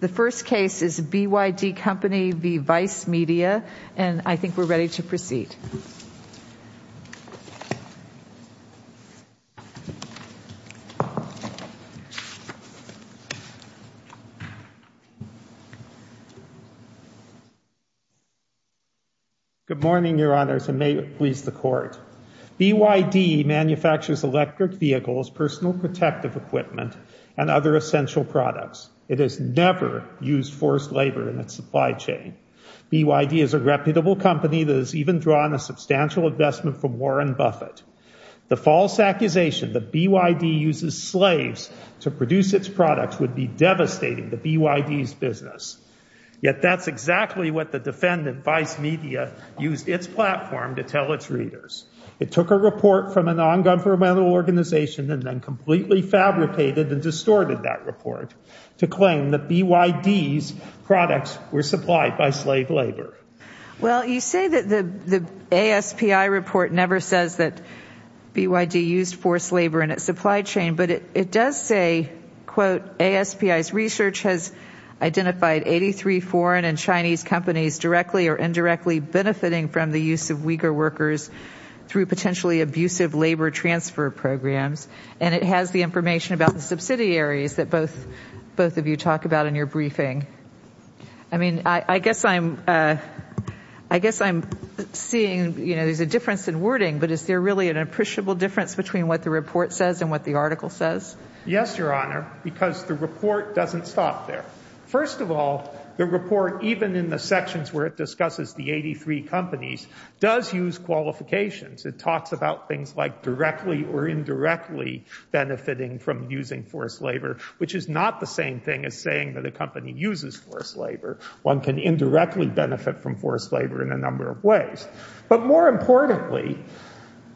The first case is BYD Company v. Vice Media, and I think we're ready to proceed. Good morning, Your Honors, and may it please the Court. BYD manufactures electric vehicles, personal protective equipment, and other essential products. It has never used forced labor in its supply chain. BYD is a reputable company that has even drawn a substantial investment from Warren Buffett. The false accusation that BYD uses slaves to produce its products would be devastating to BYD's business. Yet that's exactly what the defendant, Vice Media, used its platform to tell its readers. It took a report from a non-governmental organization and then completely fabricated and distorted that report to claim that BYD's products were supplied by slave labor. Well, you say that the ASPI report never says that BYD used forced labor in its supply chain, but it does say, quote, ASPI's research has identified 83 foreign and Chinese companies directly or indirectly benefiting from the use of Uyghur workers through potentially abusive labor transfer programs, and it has the information about the subsidiaries that both of you talk about in your briefing. I mean, I guess I'm seeing, you know, there's a difference in wording, but is there really an appreciable difference between what the report says and what the article says? Yes, Your Honor, because the report doesn't stop there. First of all, the report, even in the sections where it discusses the 83 companies, does use qualifications. It talks about things like directly or indirectly benefiting from using forced labor, which is not the same thing as saying that a company uses forced labor. One can indirectly benefit from forced labor in a number of ways. But more importantly,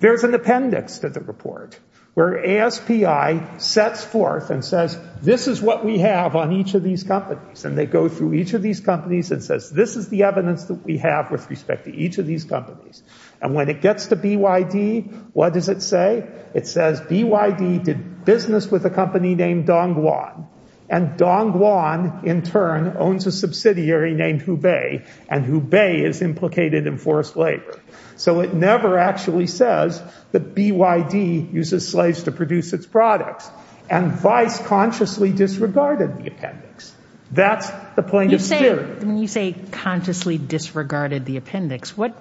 there's an appendix to the report where ASPI sets forth and says, this is what we have on each of these companies, and they go through each of these companies and this is the evidence that we have with respect to each of these companies. And when it gets to BYD, what does it say? It says BYD did business with a company named Dongguan, and Dongguan in turn owns a subsidiary named Hubei, and Hubei is implicated in forced labor. So it never actually says that BYD uses slaves to produce its products, and vice consciously disregarded the appendix. That's the plaintiff's theory. When you say consciously disregarded the appendix, what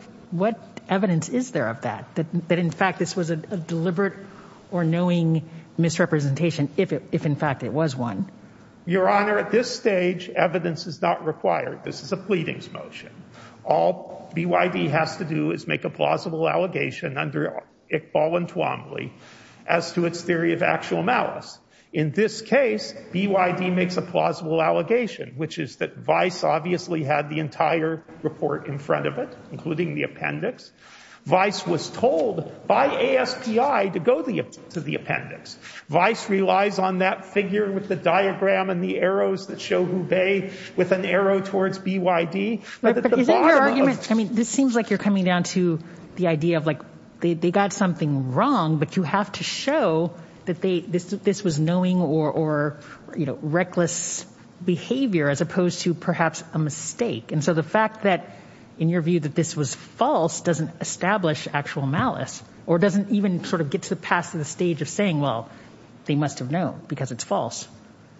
evidence is there of that, that in fact this was a deliberate or knowing misrepresentation, if in fact it was one? Your Honor, at this stage, evidence is not required. This is a pleadings motion. All BYD has to do is make a plausible allegation under Iqbal and Tuamli as to its theory of actual malice. In this case, BYD makes a plausible allegation, which is that vice obviously had the entire report in front of it, including the appendix. Vice was told by ASPI to go to the appendix. Vice relies on that figure with the diagram and the arrows that show Hubei with an arrow towards BYD. But is that your argument? I mean, this seems like you're coming down to the idea of, like, they got something wrong, but you have to show that this was knowing or reckless behavior as opposed to perhaps a mistake. And so the fact that, in your view, that this was false doesn't establish actual malice or doesn't even sort of get to the past of the stage of saying, well, they must have known because it's false.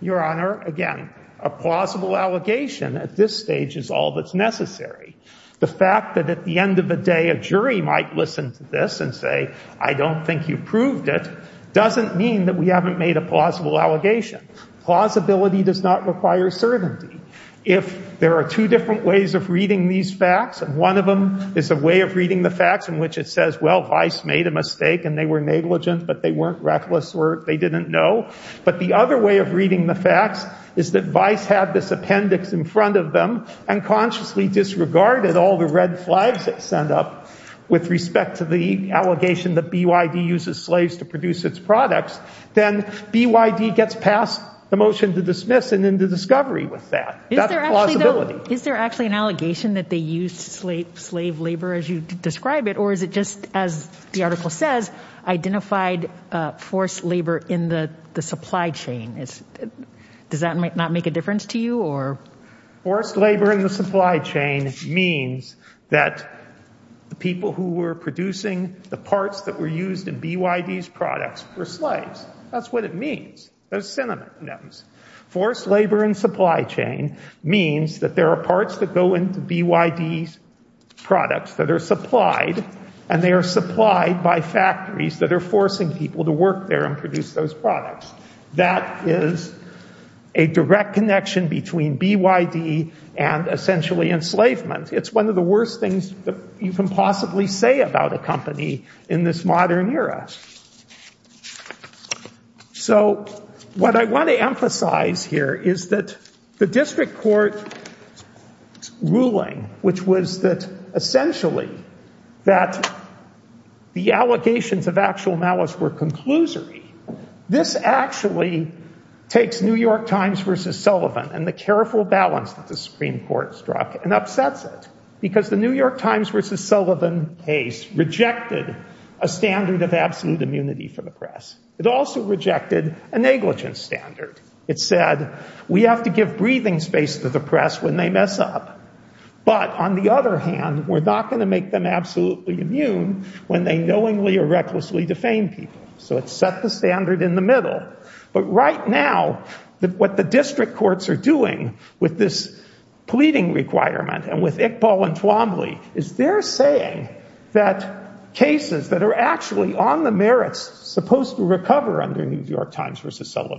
Your Honor, again, a plausible allegation at this stage is all that's necessary. The fact that at the end of the day, a jury might listen to this and say, I don't think you proved it, doesn't mean that we haven't made a plausible allegation. Plausibility does not require certainty. If there are two different ways of reading these facts, and one of them is a way of reading the facts in which it says, well, vice made a mistake and they were negligent, but they weren't reckless or they didn't know. But the other way of reading the facts is that vice had this appendix in front of them and consciously disregarded all the red flags that sent up with respect to the allegation that BYD uses slaves to produce its products. Then BYD gets past the motion to dismiss and into discovery with that. That's plausibility. Is there actually an allegation that they used slave labor as you supply chain? Does that not make a difference to you? Forced labor in the supply chain means that the people who were producing the parts that were used in BYD's products were slaves. That's what it means. Forced labor and supply chain means that there are parts that go into BYD's products that are supplied and they are supplied by factories that are forcing people to work there and produce those products. That is a direct connection between BYD and essentially enslavement. It's one of the worst things that you can possibly say about a company in this modern era. So what I want to emphasize here is that the district court ruling, which was that essentially that the allegations of actual malice were conclusory, this actually takes New York Times versus Sullivan and the careful balance that the Supreme Court struck and upsets it. Because the New York Times versus Sullivan case rejected a standard of absolute immunity for the press. It also rejected a negligence standard. It said we have to give breathing space to the press when they mess up. But on the other hand, we're not going to make them absolutely immune when they knowingly or recklessly defame people. So it set the standard in the middle. But right now, what the district courts are doing with this pleading requirement and with Iqbal and Twombly is they're saying that cases that are actually on the merits supposed to recover under New York Times versus can't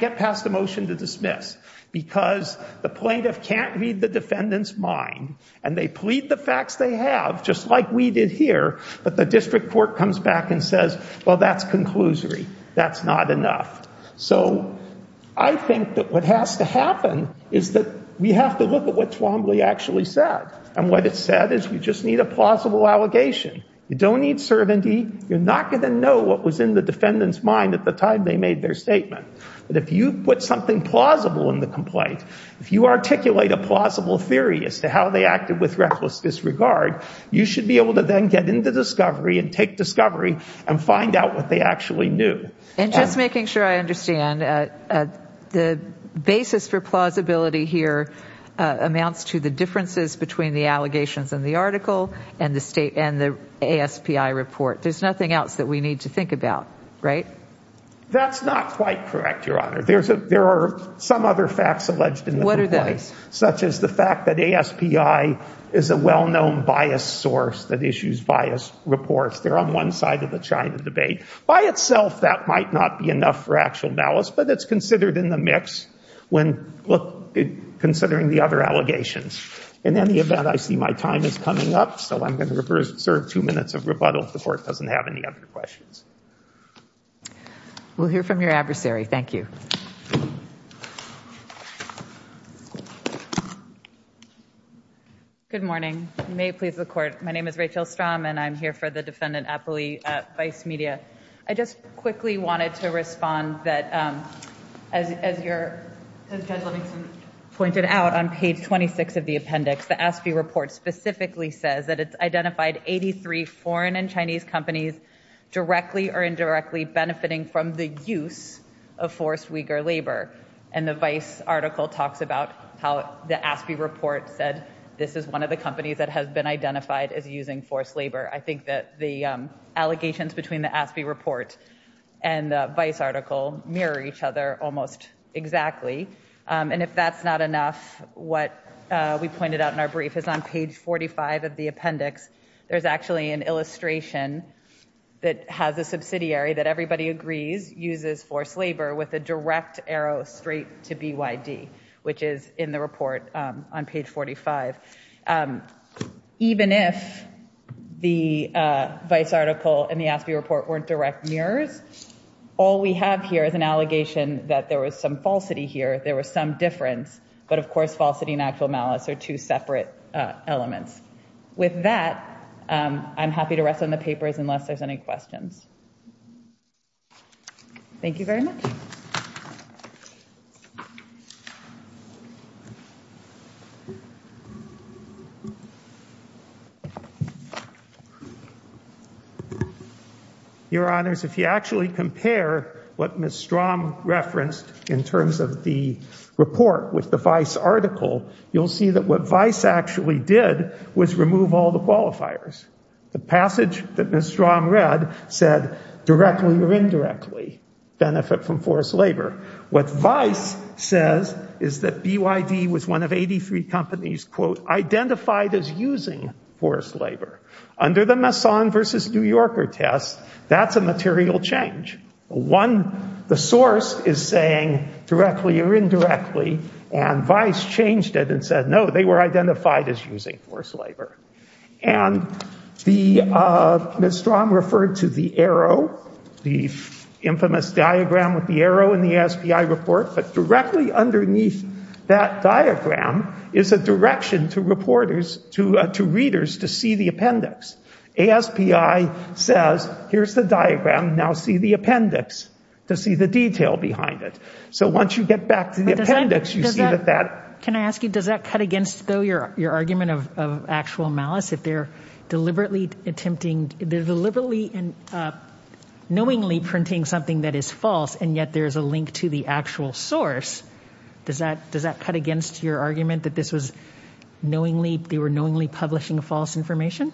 get past a motion to dismiss because the plaintiff can't read the defendant's mind and they plead the facts they have, just like we did here. But the district court comes back and says, well, that's conclusory. That's not enough. So I think that what has to happen is that we have to look at what Twombly actually said. And what it said is you just need a plausible allegation. You don't need servantee. You're not going to know what was in the defendant's mind at the time they made their statement. But if you put something plausible in the complaint, if you articulate a plausible theory as to how they acted with reckless disregard, you should be able to then get into discovery and take discovery and find out what they actually knew. And just making sure I understand, the basis for plausibility here amounts to the differences between the allegations in the article and the state and the ASPI report. There's nothing else that we need to think about, right? That's not quite correct, Your Honor. There are some other facts alleged in the complaint, such as the fact that ASPI is a well-known bias source that issues bias reports. They're on one side of the China debate. By itself, that might not be enough for actual malice, but it's considered in the mix when considering the other allegations. In any event, I see my time is coming up, so I'm going to serve two minutes of rebuttal if the Court doesn't have any other questions. We'll hear from your adversary. Thank you. Good morning. May it please the Court. My name is Rachel Strahm, and I'm here for the Defendant Appley at Vice Media. I just quickly wanted to respond that, as Judge Livingston pointed out on page 26 of the appendix, the ASPI report specifically says that it's identified 83 foreign and Chinese companies directly or indirectly benefiting from the use of forced Uyghur labor. And the Vice article talks about how the ASPI report said this is one of the companies that has been identified as using forced labor. I think that the allegations between the ASPI report and the Vice article mirror each other almost exactly. And if that's not enough, what we actually have here is an illustration that has a subsidiary that everybody agrees uses forced labor with a direct arrow straight to BYD, which is in the report on page 45. Even if the Vice article and the ASPI report weren't direct mirrors, all we have here is an allegation that there was some falsity here, there was some difference, but of course, falsity and actual malice are two separate elements. With that, I'm happy to rest on the papers unless there's any questions. Thank you very much. Your Honors, if you actually compare what Ms. Strahm referenced in terms of the report with the Vice article, you'll see that what Vice actually did was remove all the qualifiers. The passage that Ms. Strahm read said directly or indirectly benefit from forced labor. What Vice says is that BYD was one of 83 companies, quote, identified as using forced labor. Under the Masson versus New Yorker test, that's a material change. One, the source is saying directly or vice changed it and said, no, they were identified as using forced labor. And Ms. Strahm referred to the arrow, the infamous diagram with the arrow in the ASPI report, but directly underneath that diagram is a direction to reporters, to readers to see the appendix. ASPI says, here's the diagram, now see the appendix to see the detail behind it. So once you get back to the appendix, you see that that. Can I ask you, does that cut against though your argument of actual malice if they're deliberately attempting, deliberately and knowingly printing something that is false and yet there's a link to the actual source? Does that cut against your argument that this was knowingly, they were knowingly publishing false information?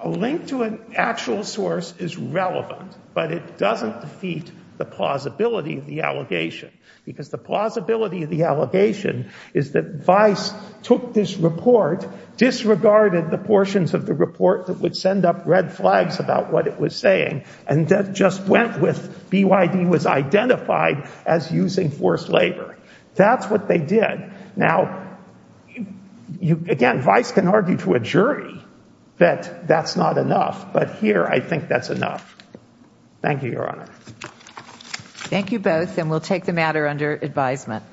A link to an actual source is relevant, but it doesn't defeat the plausibility of the allegation because the plausibility of the allegation is that Vice took this report, disregarded the portions of the report that would send up red flags about what it was saying and just went with BYD was identified as using forced labor. That's what they did. Now, again, Vice can argue to a jury that that's not enough, but here I think that's enough. Thank you, Your Honor. Thank you both and we'll take the matter under advisement.